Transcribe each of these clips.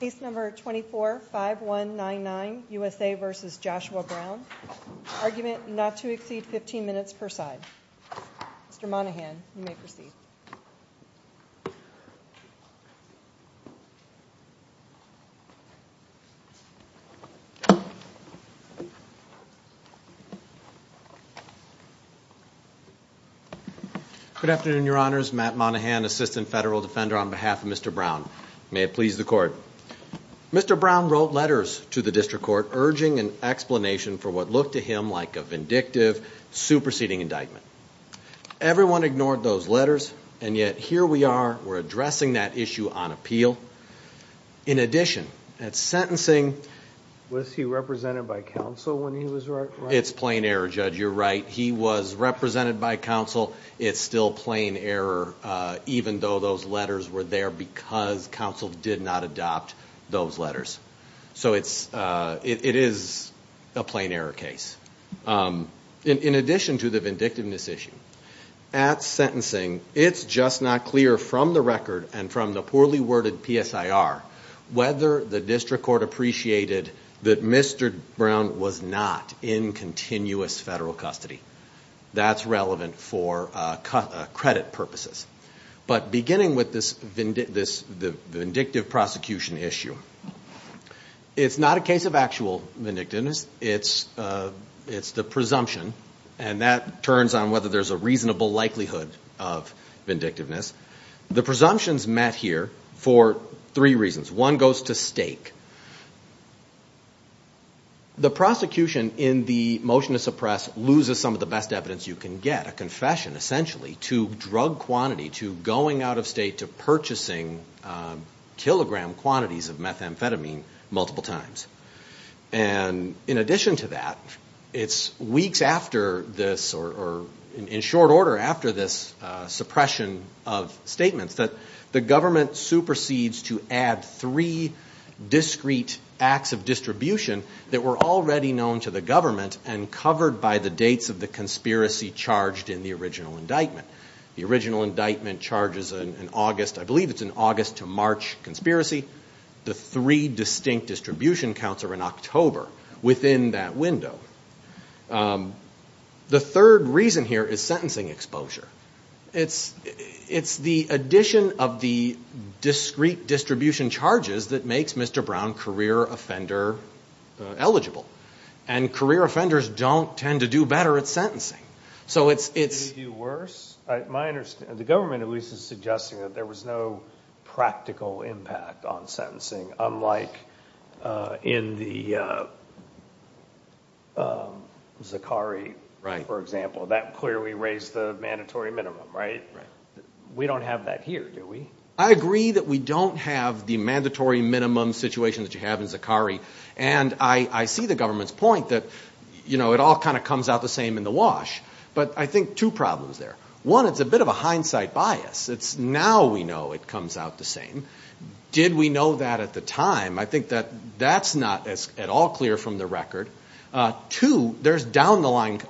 Case number 24-5199, USA v. Joshua Brown, argument not to exceed 15 minutes per side. Mr. Monahan, you may proceed. Good afternoon, Your Honors. Matt Monahan, Assistant Federal Defender on behalf of Mr. Brown. May it please the Court. Mr. Brown wrote letters to the District Court urging an explanation for what looked to him like a vindictive, superseding indictment. Everyone ignored those letters, and yet here we are, we're addressing that issue on appeal. In addition, at sentencing... Was he represented by counsel when he was writing? It's plain error, Judge. You're right. He was represented by counsel. It's still plain error, even though those letters were there because counsel did not adopt those letters. So it is a plain error case. In addition to the vindictiveness issue, at sentencing, it's just not clear from the record and from the poorly worded PSIR whether the District Court appreciated that Mr. Brown was not in continuous federal custody. That's relevant for credit purposes. But beginning with this vindictive prosecution issue, it's not a case of actual vindictiveness. It's the presumption, and that turns on whether there's a reasonable likelihood of vindictiveness. The presumption's met here for three reasons. One goes to stake. The prosecution in the motion to suppress loses some of the best evidence you can get, a confession, essentially, to drug quantity, to going out of state, to purchasing kilogram quantities of methamphetamine multiple times. And in addition to that, it's weeks after this, or in short order after this suppression of statements, that the government supersedes to add three discrete acts of distribution that were already known to the government and covered by the dates of the conspiracy charged in the original indictment. The original indictment charges an August, I believe it's an August to March conspiracy. The three distinct distribution counts are in October within that window. The third reason here is sentencing exposure. It's the addition of the discrete distribution charges that makes Mr. Brown career offender eligible. And career offenders don't tend to do better at sentencing. So it's... Do they do worse? My understanding, the government at least is suggesting that there was no practical impact on sentencing, unlike in the Zakari, for example. That clearly raised the mandatory minimum, right? We don't have that here, do we? I agree that we don't have the mandatory minimum situation that you have in Zakari. And I see the government's point that, you know, it all kind of comes out the same in the wash. But I think two problems there. One, it's a bit of a hindsight bias. It's now we know it comes out the same. Did we know that at the time? I think that that's not at all clear from the record. Two, there's down the line...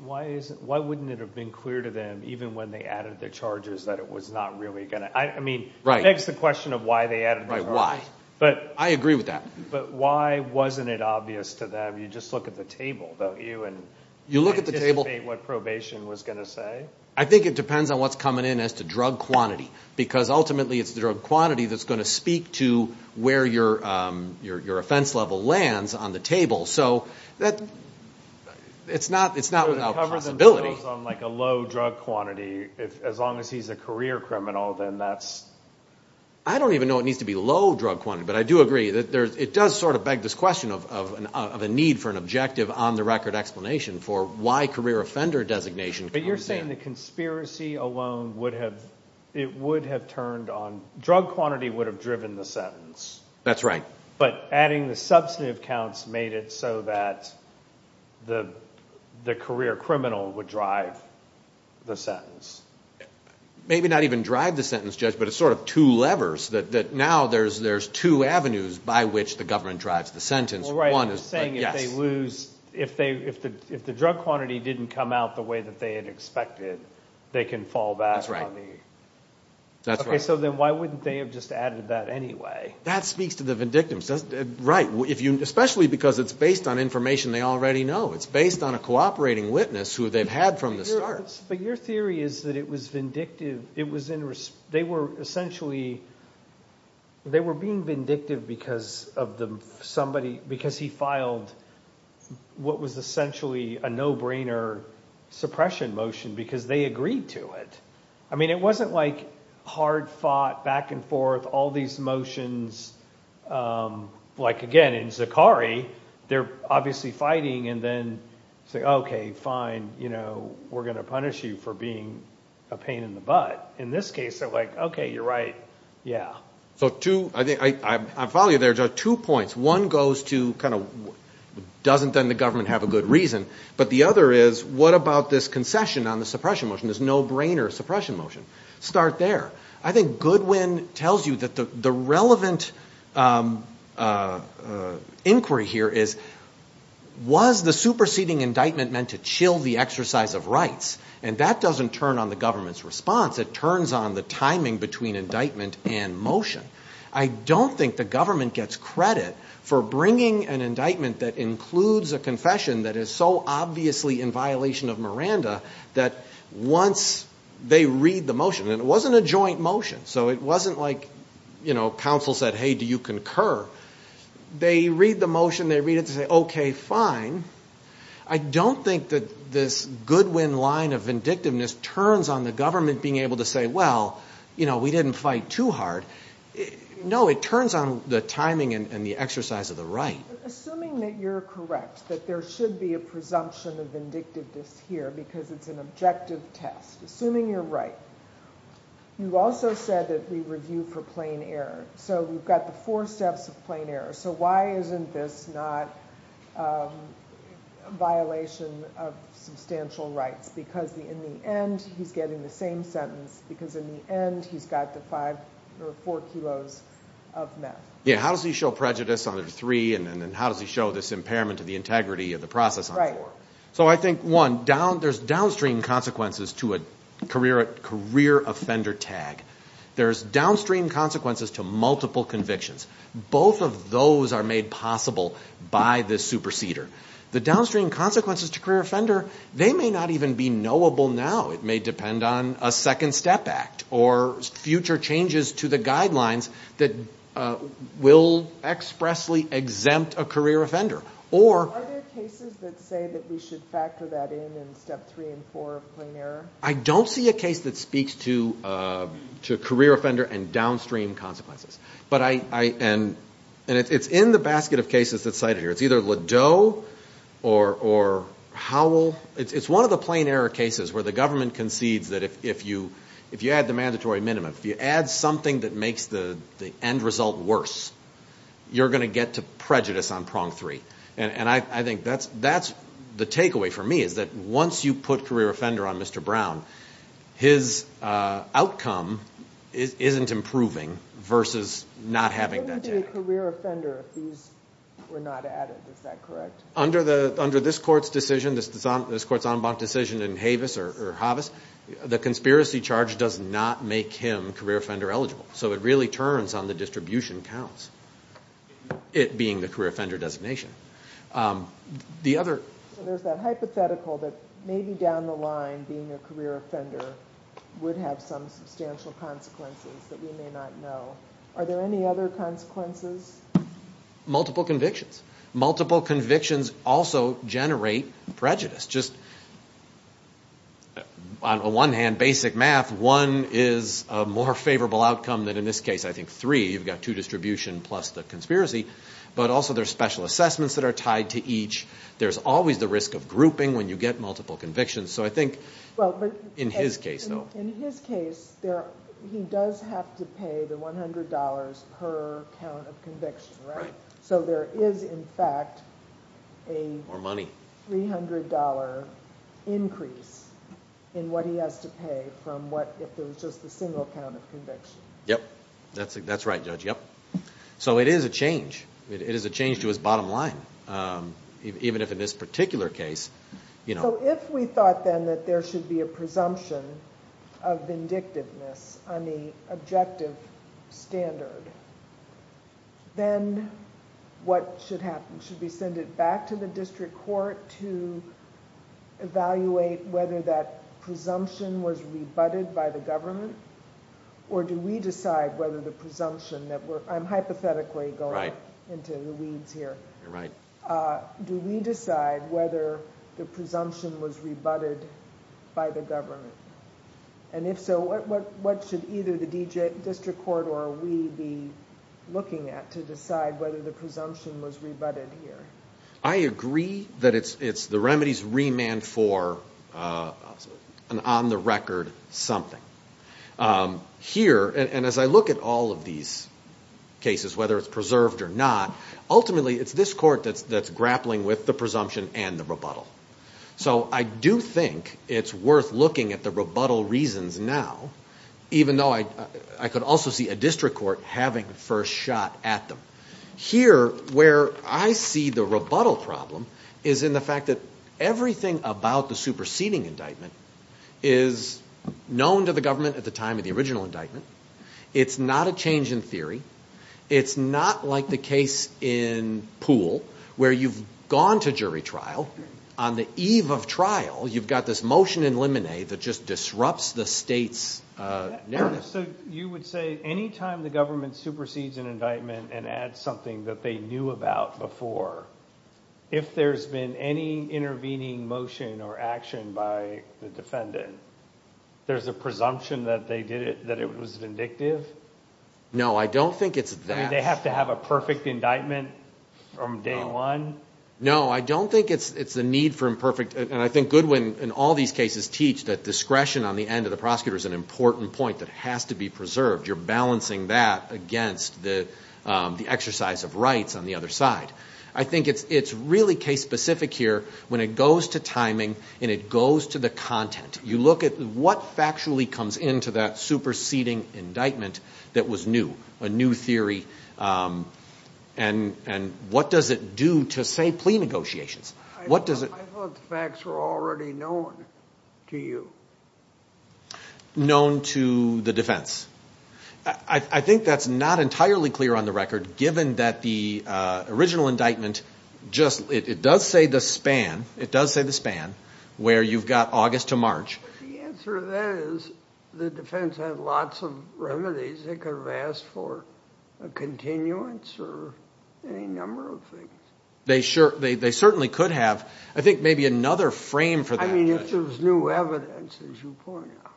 Why wouldn't it have been clear to them, even when they added the charges, that it was not really going to... I mean, it begs the question of why they added the charges. Right, why? I agree with that. But why wasn't it obvious to them? You just look at the table, don't you? You look at the table... And anticipate what probation was going to say? I think it depends on what's coming in as to drug quantity. Because ultimately it's the drug quantity that's going to speak to where your offense level lands on the table. So it's not without possibility. So to cover the bills on, like, a low drug quantity, as long as he's a career criminal, then that's... I don't even know it needs to be low drug quantity. But I do agree. It does sort of beg this question of a need for an objective on-the-record explanation for why career offender designation comes in. But you're saying the conspiracy alone would have... It would have turned on... Drug quantity would have driven the sentence. That's right. But adding the substantive counts made it so that the career criminal would drive the sentence. Maybe not even drive the sentence, Judge, but it's sort of two levers. Now there's two avenues by which the government drives the sentence. You're saying if they lose, if the drug quantity didn't come out the way that they had expected, they can fall back on the... That's right. Okay, so then why wouldn't they have just added that anyway? That speaks to the vindictims. Right, especially because it's based on information they already know. It's based on a cooperating witness who they've had from the start. But your theory is that it was vindictive. It was in... They were essentially... They were being vindictive because of the... Somebody... Because he filed what was essentially a no-brainer suppression motion because they agreed to it. I mean it wasn't like hard-fought, back-and-forth, all these motions. Like, again, in Zachary, they're obviously fighting and then say, okay, fine, we're going to punish you for being a pain in the butt. In this case, they're like, okay, you're right, yeah. So two... I follow you there, Judge. Two points. One goes to kind of doesn't then the government have a good reason? But the other is what about this concession on the suppression motion, this no-brainer suppression motion? Start there. I think Goodwin tells you that the relevant inquiry here is was the superseding indictment meant to chill the exercise of rights? And that doesn't turn on the government's response. It turns on the timing between indictment and motion. I don't think the government gets credit for bringing an indictment that includes a confession that is so obviously in violation of Miranda that once they read the motion... And it wasn't a joint motion, so it wasn't like, you know, counsel said, hey, do you concur? They read the motion, they read it, they say, okay, fine. I don't think that this Goodwin line of vindictiveness turns on the government being able to say, well, you know, we didn't fight too hard. No, it turns on the timing and the exercise of the right. Assuming that you're correct, that there should be a presumption of vindictiveness here because it's an objective test. Assuming you're right, you also said that we review for plain error. So we've got the four steps of plain error. So why isn't this not a violation of substantial rights? Because in the end he's getting the same sentence because in the end he's got the five or four kilos of meth. Yeah, how does he show prejudice under three and then how does he show this impairment to the integrity of the process on four? Right. So I think, one, there's downstream consequences to a career offender tag. There's downstream consequences to multiple convictions. Both of those are made possible by this superseder. The downstream consequences to career offender, they may not even be knowable now. It may depend on a second step act or future changes to the guidelines that will expressly exempt a career offender. Are there cases that say that we should factor that in in step three and four of plain error? I don't see a case that speaks to career offender and downstream consequences. And it's in the basket of cases that's cited here. It's either Ladeau or Howell. It's one of the plain error cases where the government concedes that if you add the mandatory minimum, if you add something that makes the end result worse, you're going to get to prejudice on prong three. And I think that's the takeaway for me is that once you put career offender on Mr. Brown, his outcome isn't improving versus not having that tag. What would be a career offender if these were not added? Is that correct? Under this court's decision, this court's en banc decision in Havis or Havas, the conspiracy charge does not make him career offender eligible. So it really turns on the distribution counts, it being the career offender designation. There's that hypothetical that maybe down the line being a career offender would have some substantial consequences that we may not know. Are there any other consequences? Multiple convictions. Multiple convictions also generate prejudice. On the one hand, basic math, one is a more favorable outcome than, in this case, I think, three. You've got two distribution plus the conspiracy. But also there's special assessments that are tied to each. There's always the risk of grouping when you get multiple convictions. So I think in his case, though. In his case, he does have to pay the $100 per count of conviction, right? So there is, in fact, a $300 increase in what he has to pay if there was just a single count of conviction. Yep. That's right, Judge. Yep. So it is a change. It is a change to his bottom line, even if in this particular case. So if we thought then that there should be a presumption of vindictiveness on the objective standard, then what should happen? Should we send it back to the district court to evaluate whether that presumption was rebutted by the government? Or do we decide whether the presumption that we're... I'm hypothetically going into the weeds here. Right. Do we decide whether the presumption was rebutted by the government? And if so, what should either the district court or we be looking at to decide whether the presumption was rebutted here? I agree that it's the remedies remand for an on-the-record something. Here, and as I look at all of these cases, whether it's preserved or not, ultimately it's this court that's grappling with the presumption and the rebuttal. So I do think it's worth looking at the rebuttal reasons now, even though I could also see a district court having the first shot at them. Here, where I see the rebuttal problem is in the fact that everything about the superseding indictment is known to the government at the time of the original indictment. It's not a change in theory. It's not like the case in Poole, where you've gone to jury trial. On the eve of trial, you've got this motion in limine that just disrupts the state's narrative. So you would say any time the government supersedes an indictment and adds something that they knew about before, if there's been any intervening motion or action by the defendant, there's a presumption that it was vindictive? No, I don't think it's that. They have to have a perfect indictment from day one? No, I don't think it's the need for imperfect. And I think Goodwin in all these cases teach that discretion on the end of the prosecutor is an important point that has to be preserved. You're balancing that against the exercise of rights on the other side. I think it's really case-specific here when it goes to timing and it goes to the content. You look at what factually comes into that superseding indictment that was new, a new theory. And what does it do to say plea negotiations? I thought the facts were already known to you. Known to the defense. I think that's not entirely clear on the record, given that the original indictment does say the span where you've got August to March. The answer to that is the defense had lots of remedies. They could have asked for a continuance or any number of things. They certainly could have. I think maybe another frame for that. I mean, if there's new evidence, as you point out.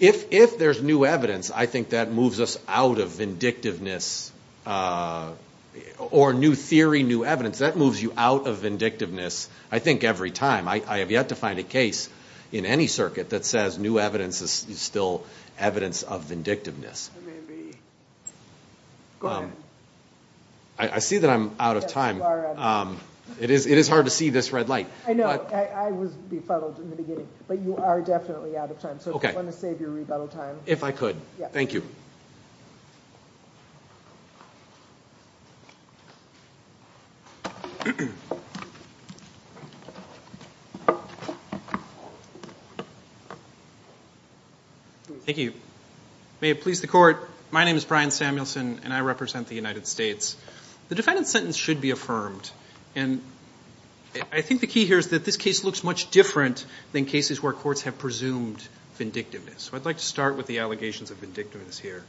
If there's new evidence, I think that moves us out of vindictiveness. Or new theory, new evidence. That moves you out of vindictiveness, I think, every time. I have yet to find a case in any circuit that says new evidence is still evidence of vindictiveness. I see that I'm out of time. It is hard to see this red light. I know. I was befuddled in the beginning. But you are definitely out of time. So if you want to save your rebuttal time. If I could. Thank you. Thank you. May it please the court. My name is Brian Samuelson, and I represent the United States. The defendant's sentence should be affirmed. And I think the key here is that this case looks much different than cases where courts have presumed vindictiveness. So I'd like to start with the allegations of vindictiveness here.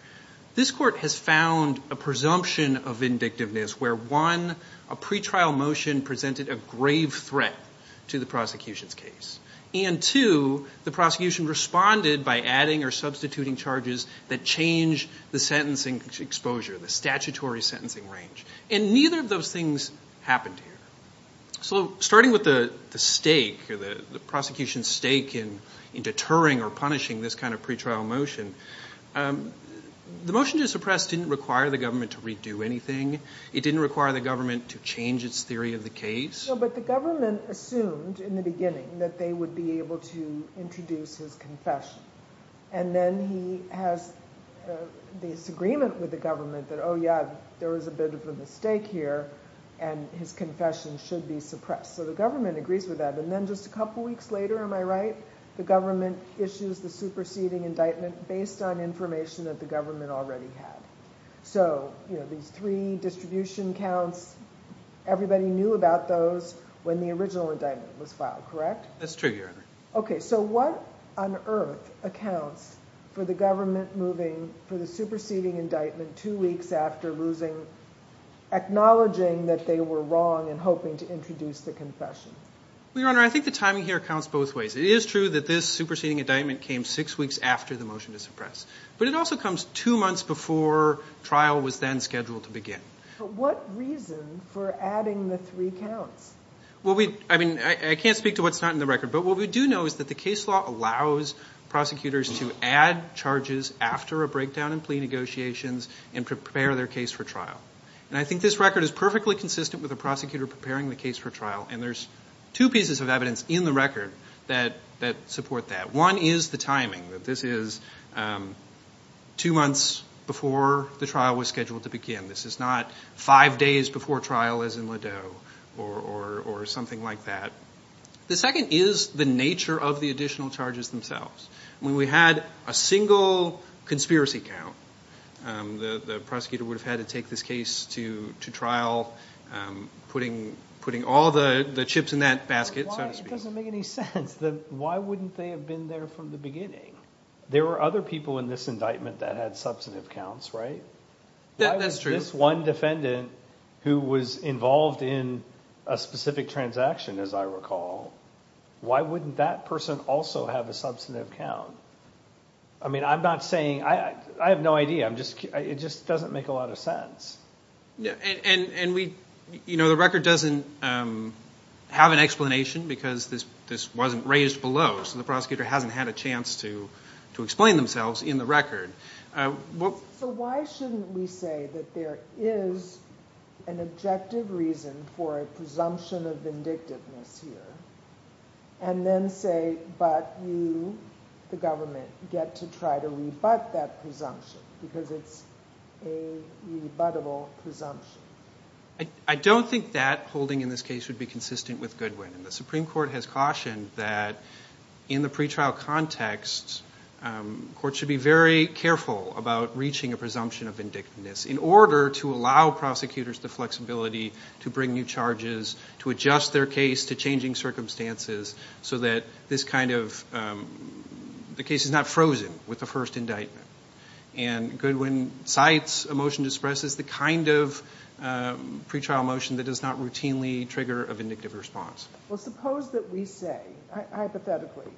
This court has found a presumption of vindictiveness. Where, one, a pretrial motion presented a grave threat to the prosecution's case. And, two, the prosecution responded by adding or substituting charges that changed the sentencing exposure, the statutory sentencing range. And neither of those things happened here. So starting with the stake, the prosecution's stake in deterring or punishing this kind of pretrial motion, the motion to suppress didn't require the government to redo anything. It didn't require the government to change its theory of the case. No, but the government assumed in the beginning that they would be able to introduce his confession. And then he has this agreement with the government that, oh, yeah, there was a bit of a mistake here, and his confession should be suppressed. So the government agrees with that. And then just a couple weeks later, am I right, the government issues the superseding indictment based on information that the government already had. So, you know, these three distribution counts, everybody knew about those when the original indictment was filed, correct? That's true, Your Honor. Okay, so what on earth accounts for the government moving for the superseding indictment two weeks after losing, acknowledging that they were wrong and hoping to introduce the confession? Well, Your Honor, I think the timing here counts both ways. It is true that this superseding indictment came six weeks after the motion to suppress. But it also comes two months before trial was then scheduled to begin. But what reason for adding the three counts? Well, I mean, I can't speak to what's not in the record. But what we do know is that the case law allows prosecutors to add charges after a breakdown in plea negotiations and prepare their case for trial. And I think this record is perfectly consistent with a prosecutor preparing the case for trial. And there's two pieces of evidence in the record that support that. One is the timing, that this is two months before the trial was scheduled to begin. This is not five days before trial as in Ladeau or something like that. The second is the nature of the additional charges themselves. When we had a single conspiracy count, the prosecutor would have had to take this case to trial, putting all the chips in that basket, so to speak. It doesn't make any sense. Why wouldn't they have been there from the beginning? There were other people in this indictment that had substantive counts, right? That's true. If there was this one defendant who was involved in a specific transaction, as I recall, why wouldn't that person also have a substantive count? I mean, I'm not saying – I have no idea. It just doesn't make a lot of sense. And the record doesn't have an explanation because this wasn't raised below, so the prosecutor hasn't had a chance to explain themselves in the record. So why shouldn't we say that there is an objective reason for a presumption of vindictiveness here and then say, but you, the government, get to try to rebut that presumption because it's a rebuttable presumption? I don't think that holding in this case would be consistent with Goodwin. The Supreme Court has cautioned that in the pretrial context, courts should be very careful about reaching a presumption of vindictiveness in order to allow prosecutors the flexibility to bring new charges, to adjust their case to changing circumstances so that this kind of – the case is not frozen with the first indictment. And Goodwin cites a motion to suppress as the kind of pretrial motion that does not routinely trigger a vindictive response. Well, suppose that we say, hypothetically,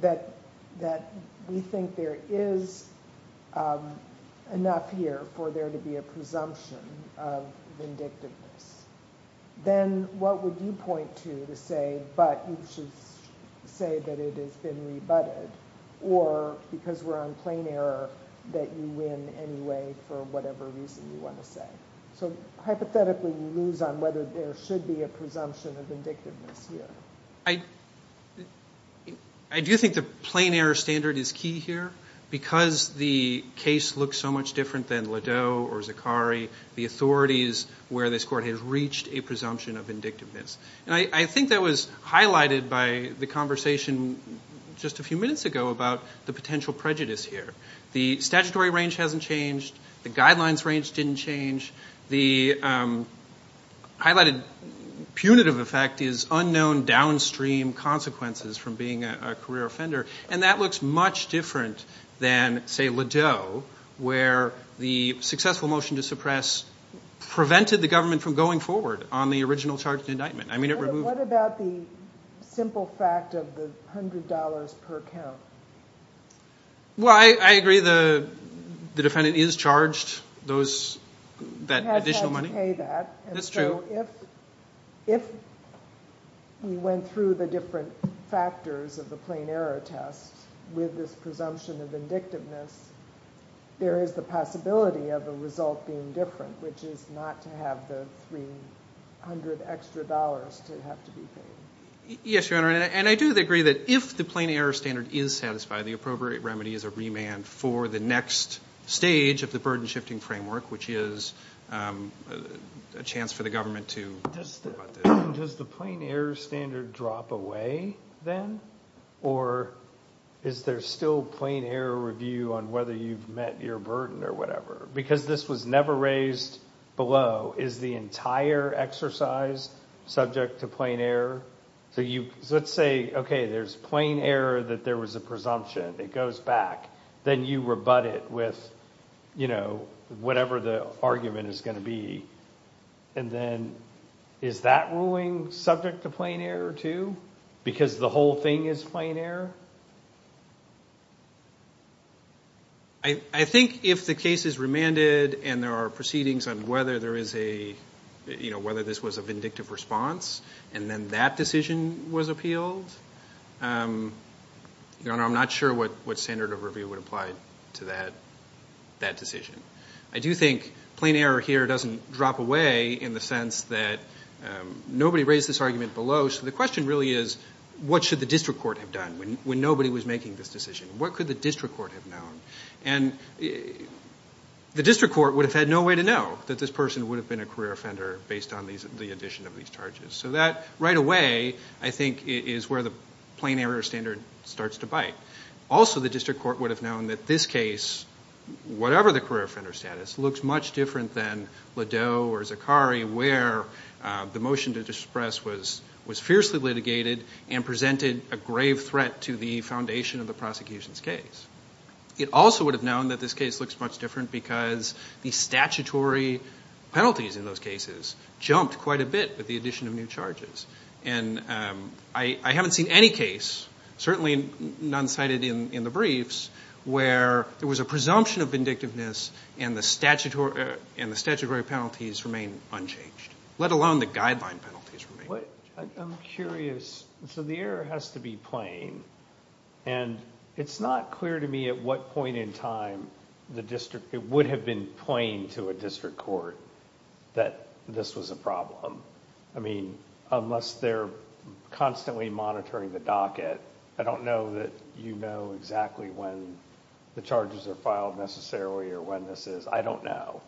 that we think there is enough here for there to be a presumption of vindictiveness. Then what would you point to to say, but you should say that it has been rebutted or, because we're on plain error, that you win anyway for whatever reason you want to say? So, hypothetically, you lose on whether there should be a presumption of vindictiveness here. I do think the plain error standard is key here. Because the case looks so much different than Ladeau or Zakari, the authorities where this court has reached a presumption of vindictiveness. And I think that was highlighted by the conversation just a few minutes ago about the potential prejudice here. The statutory range hasn't changed. The guidelines range didn't change. The highlighted punitive effect is unknown downstream consequences from being a career offender. And that looks much different than, say, Ladeau, where the successful motion to suppress prevented the government from going forward on the original charge of indictment. I mean, it removed – What about the simple fact of the $100 per count? Well, I agree the defendant is charged that additional money. That's true. And so if we went through the different factors of the plain error test with this presumption of vindictiveness, there is the possibility of a result being different, which is not to have the $300 extra to have to be paid. Yes, Your Honor. And I do agree that if the plain error standard is satisfied, the appropriate remedy is a remand for the next stage of the burden-shifting framework, which is a chance for the government to – Does the plain error standard drop away then? Or is there still plain error review on whether you've met your burden or whatever? Because this was never raised below. Is the entire exercise subject to plain error? So let's say, okay, there's plain error that there was a presumption. It goes back. Then you rebut it with whatever the argument is going to be. And then is that ruling subject to plain error too because the whole thing is plain error? I think if the case is remanded and there are proceedings on whether there is a – whether this was a vindictive response and then that decision was appealed, Your Honor, I'm not sure what standard of review would apply to that decision. I do think plain error here doesn't drop away in the sense that nobody raised this argument below. So the question really is what should the district court have done when nobody was making this decision? What could the district court have known? And the district court would have had no way to know that this person would have been a career offender based on the addition of these charges. So that right away I think is where the plain error standard starts to bite. Also, the district court would have known that this case, whatever the career offender status, looks much different than Ladeau or Zakari where the motion to disperse was fiercely litigated and presented a grave threat to the foundation of the prosecution's case. It also would have known that this case looks much different because the statutory penalties in those cases jumped quite a bit with the addition of new charges. And I haven't seen any case, certainly none cited in the briefs, where there was a presumption of vindictiveness and the statutory penalties remain unchanged, let alone the guideline penalties remain unchanged. I'm curious. So the error has to be plain. And it's not clear to me at what point in time it would have been plain to a district court that this was a problem. I mean, unless they're constantly monitoring the docket, I don't know that you know exactly when the charges are filed necessarily or when this is. I don't know.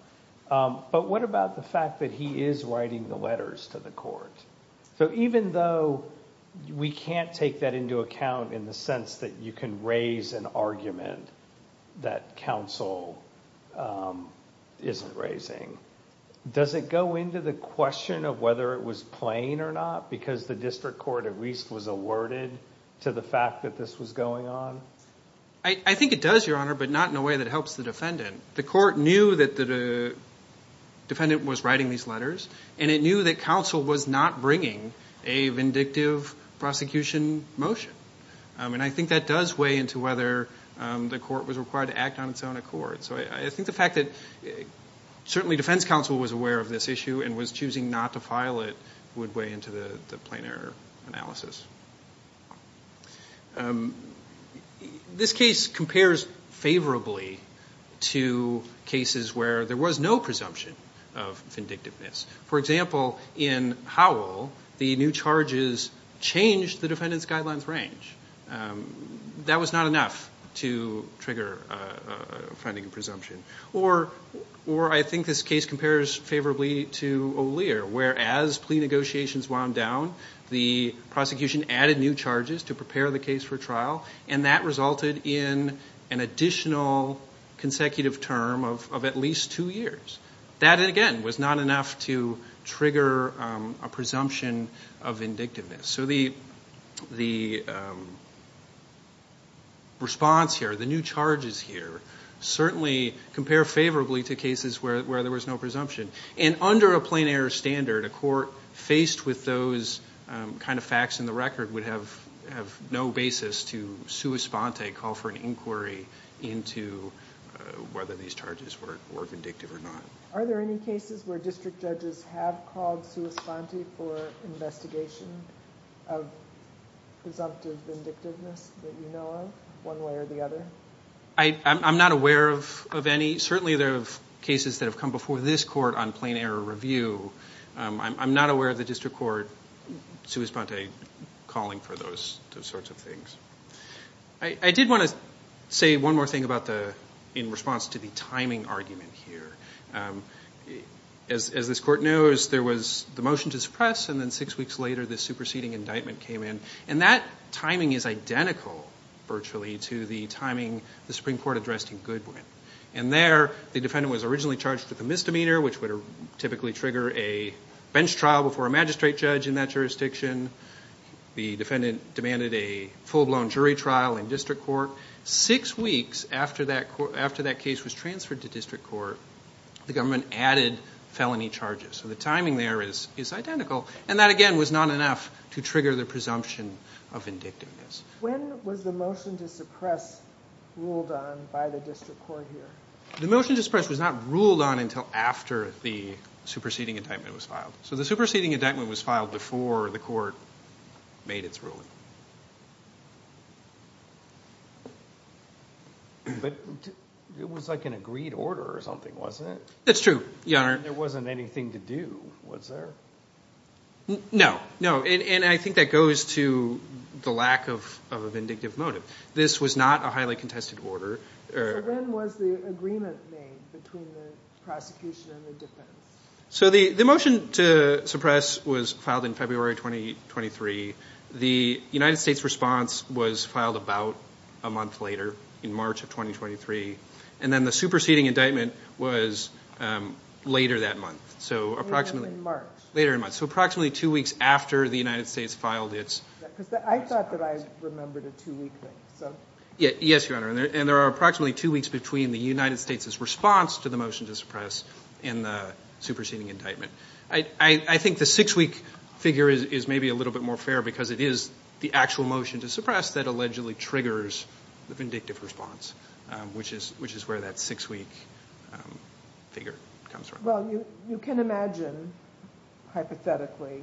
But what about the fact that he is writing the letters to the court? So even though we can't take that into account in the sense that you can raise an argument that counsel isn't raising, does it go into the question of whether it was plain or not because the district court at least was alerted to the fact that this was going on? I think it does, Your Honor, but not in a way that helps the defendant. The court knew that the defendant was writing these letters, and it knew that counsel was not bringing a vindictive prosecution motion. And I think that does weigh into whether the court was required to act on its own accord. So I think the fact that certainly defense counsel was aware of this issue and was choosing not to file it would weigh into the plain error analysis. This case compares favorably to cases where there was no presumption of vindictiveness. For example, in Howell, the new charges changed the defendant's guidelines range. That was not enough to trigger a finding of presumption. Or I think this case compares favorably to O'Lear, where as plea negotiations wound down, the prosecution added new charges to prepare the case for trial, and that resulted in an additional consecutive term of at least two years. That, again, was not enough to trigger a presumption of vindictiveness. So the response here, the new charges here, certainly compare favorably to cases where there was no presumption. And under a plain error standard, a court faced with those kind of facts in the record would have no basis to sua sponte, call for an inquiry into whether these charges were vindictive or not. Are there any cases where district judges have called sua sponte for investigation of presumptive vindictiveness that you know of, one way or the other? I'm not aware of any. Certainly there are cases that have come before this court on plain error review. I'm not aware of the district court sua sponte calling for those sorts of things. I did want to say one more thing in response to the timing argument here. As this court knows, there was the motion to suppress, and then six weeks later the superseding indictment came in. And that timing is identical virtually to the timing the Supreme Court addressed in Goodwin. And there the defendant was originally charged with a misdemeanor, which would typically trigger a bench trial before a magistrate judge in that jurisdiction. The defendant demanded a full-blown jury trial in district court. Six weeks after that case was transferred to district court, the government added felony charges. So the timing there is identical. And that, again, was not enough to trigger the presumption of vindictiveness. When was the motion to suppress ruled on by the district court here? The motion to suppress was not ruled on until after the superseding indictment was filed. So the superseding indictment was filed before the court made its ruling. But it was like an agreed order or something, wasn't it? It's true, Your Honor. There wasn't anything to do, was there? No, no, and I think that goes to the lack of a vindictive motive. This was not a highly contested order. So then was the agreement made between the prosecution and the defense? So the motion to suppress was filed in February 2023. The United States response was filed about a month later, in March of 2023. And then the superseding indictment was later that month. Later than March. Later than March. So approximately two weeks after the United States filed its superseding. I thought that I remembered a two-week thing. Yes, Your Honor. And there are approximately two weeks between the United States' response to the motion to suppress and the superseding indictment. I think the six-week figure is maybe a little bit more fair because it is the actual motion to suppress that allegedly triggers the vindictive response, which is where that six-week figure comes from. Well, you can imagine, hypothetically,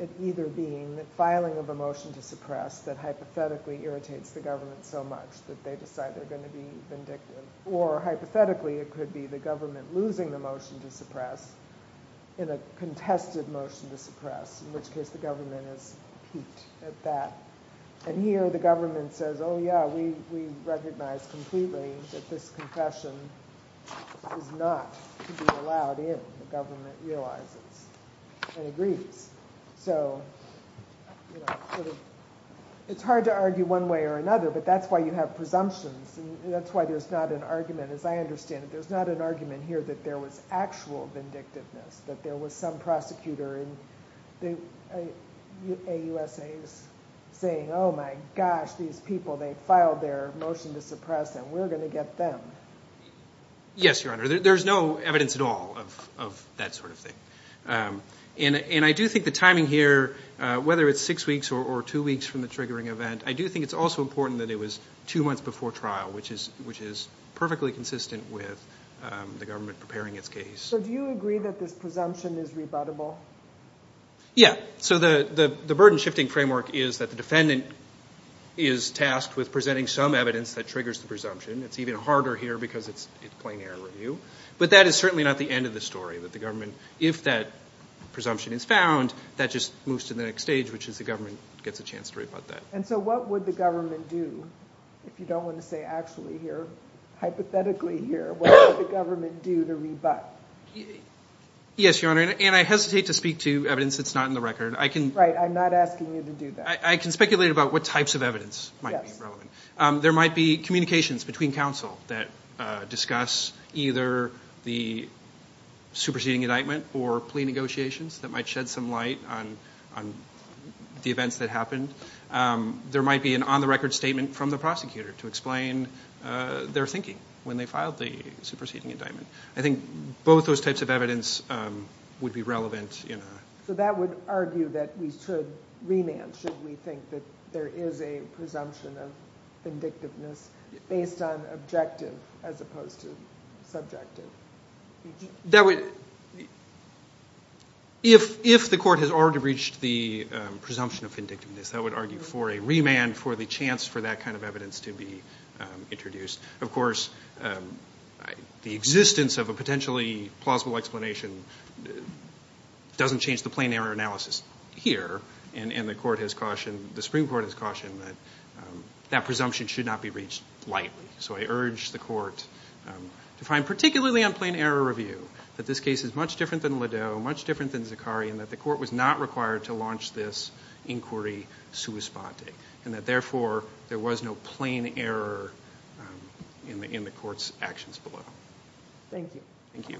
it either being the filing of a motion to suppress that hypothetically irritates the government so much that they decide they're going to be vindictive, or hypothetically it could be the government losing the motion to suppress in a contested motion to suppress, in which case the government is piqued at that. And here the government says, oh, yeah, we recognize completely that this confession is not to be allowed in, the government realizes and agrees. So it's hard to argue one way or another, but that's why you have presumptions, and that's why there's not an argument. As I understand it, there's not an argument here that there was actual vindictiveness, that there was some prosecutor in the AUSA saying, oh, my gosh, these people, they filed their motion to suppress, and we're going to get them. Yes, Your Honor. There's no evidence at all of that sort of thing. And I do think the timing here, whether it's six weeks or two weeks from the triggering event, I do think it's also important that it was two months before trial, which is perfectly consistent with the government preparing its case. So do you agree that this presumption is rebuttable? Yeah. So the burden-shifting framework is that the defendant is tasked with presenting some evidence that triggers the presumption. It's even harder here because it's plain air review. But that is certainly not the end of the story, that the government, if that presumption is found, that just moves to the next stage, which is the government gets a chance to rebut that. And so what would the government do, if you don't want to say actually here, hypothetically here, what would the government do to rebut? Yes, Your Honor, and I hesitate to speak to evidence that's not in the record. Right, I'm not asking you to do that. I can speculate about what types of evidence might be relevant. There might be communications between counsel that discuss either the superseding indictment or plea negotiations that might shed some light on the events that happened. There might be an on-the-record statement from the prosecutor to explain their thinking when they filed the superseding indictment. I think both those types of evidence would be relevant. So that would argue that we should remand should we think that there is a presumption of vindictiveness based on objective as opposed to subjective. If the court has already reached the presumption of vindictiveness, that would argue for a remand for the chance for that kind of evidence to be introduced. Of course, the existence of a potentially plausible explanation doesn't change the plain error analysis here, and the Supreme Court has cautioned that that presumption should not be reached lightly. So I urge the court to find, particularly on plain error review, that this case is much different than Lideau, much different than Zakaria, and that the court was not required to launch this inquiry sua sponte, and that therefore there was no plain error in the court's actions below. Thank you. Thank you.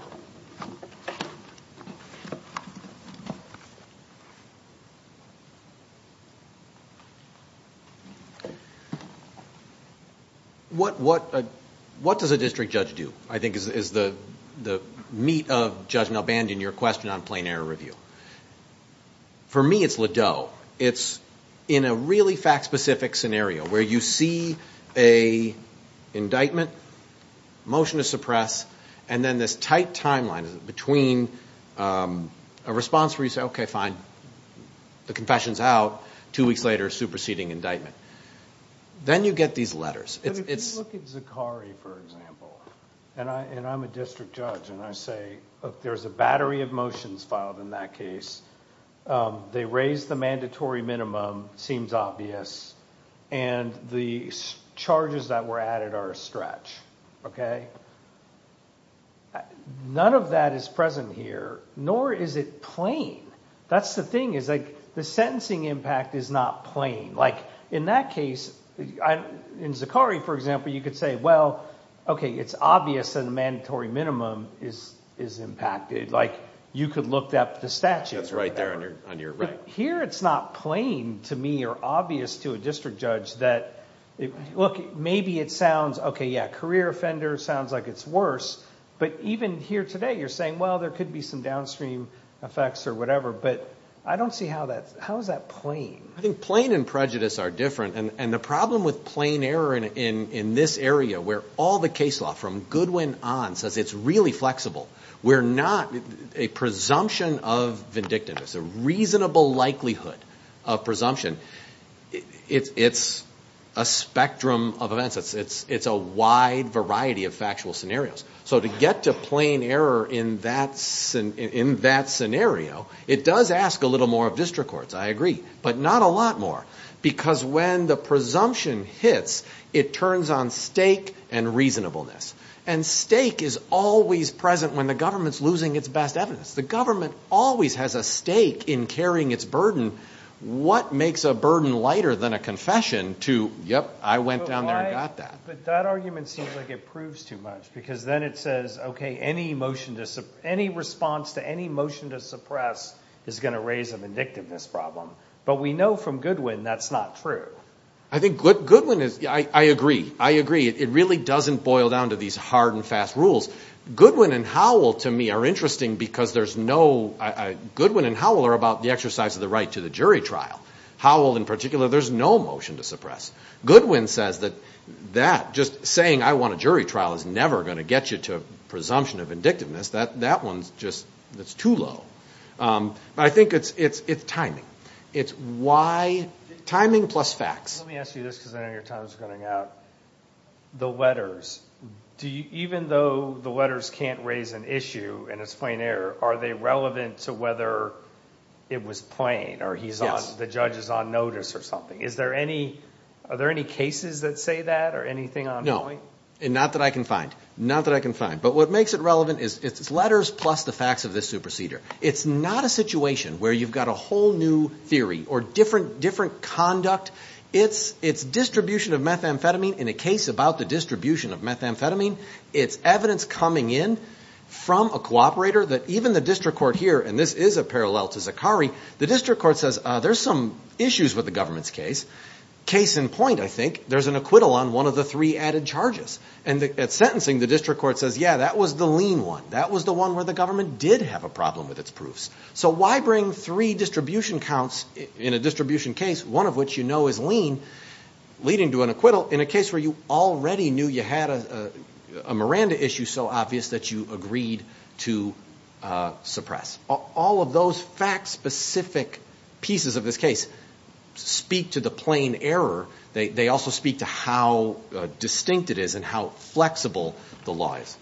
What does a district judge do, I think, is the meat of, Judge Nelband, in your question on plain error review? For me, it's Lideau. It's in a really fact-specific scenario where you see an indictment, motion to suppress, and then this tight timeline between a response where you say, okay, fine, the confession's out, two weeks later, superseding indictment. Then you get these letters. If you look at Zakaria, for example, and I'm a district judge, and I say, look, there's a battery of motions filed in that case. They raise the mandatory minimum, seems obvious, and the charges that were added are a stretch. None of that is present here, nor is it plain. That's the thing, is the sentencing impact is not plain. In that case, in Zakaria, for example, you could say, well, okay, it's obvious that a mandatory minimum is impacted. You could look up the statute. That's right there on your right. Here, it's not plain to me or obvious to a district judge that... Look, maybe it sounds, okay, yeah, career offender sounds like it's worse, but even here today, you're saying, well, there could be some downstream effects or whatever, but I don't see how that's... how is that plain? I think plain and prejudice are different. The problem with plain error in this area where all the case law from Goodwin on says it's really flexible. We're not... a presumption of vindictiveness, a reasonable likelihood of presumption, it's a spectrum of events. It's a wide variety of factual scenarios. So to get to plain error in that scenario, it does ask a little more of district courts, I agree, but not a lot more because when the presumption hits, it turns on stake and reasonableness. And stake is always present when the government's losing its best evidence. The government always has a stake in carrying its burden. What makes a burden lighter than a confession to, yep, I went down there and got that? But that argument seems like it proves too much because then it says, okay, any response to any motion to suppress is going to raise a vindictiveness problem. But we know from Goodwin that's not true. I think Goodwin is... I agree. It really doesn't boil down to these hard and fast rules. Goodwin and Howell to me are interesting because there's no... Goodwin and Howell are about the exercise of the right to the jury trial. Howell in particular, there's no motion to suppress. Goodwin says that just saying I want a jury trial is never going to get you to a presumption of vindictiveness. That one's just too low. But I think it's timing. It's why... timing plus facts. Let me ask you this because I know your time is running out. The letters, even though the letters can't raise an issue and it's plain error, are they relevant to whether it was plain or the judge is on notice or something? Are there any cases that say that or anything on point? Not that I can find. Not that I can find. But what makes it relevant is it's letters plus the facts of this superseder. It's not a situation where you've got a whole new theory or different conduct. It's distribution of methamphetamine in a case about the distribution of methamphetamine. It's evidence coming in from a cooperator that even the district court here, and this is a parallel to Zakari, the district court says there's some issues with the government's case. Case in point, I think, there's an acquittal on one of the three added charges. And at sentencing, the district court says, yeah, that was the lean one. That was the one where the government did have a problem with its proofs. So why bring three distribution counts in a distribution case, one of which you know is lean, leading to an acquittal, in a case where you already knew you had a Miranda issue so obvious that you agreed to suppress? All of those fact-specific pieces of this case speak to the plain error. They also speak to how distinct it is and how flexible the law is.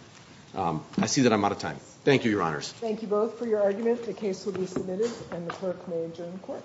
I see that I'm out of time. Thank you, Your Honors. Thank you both for your argument. The case will be submitted and the clerk may adjourn the court.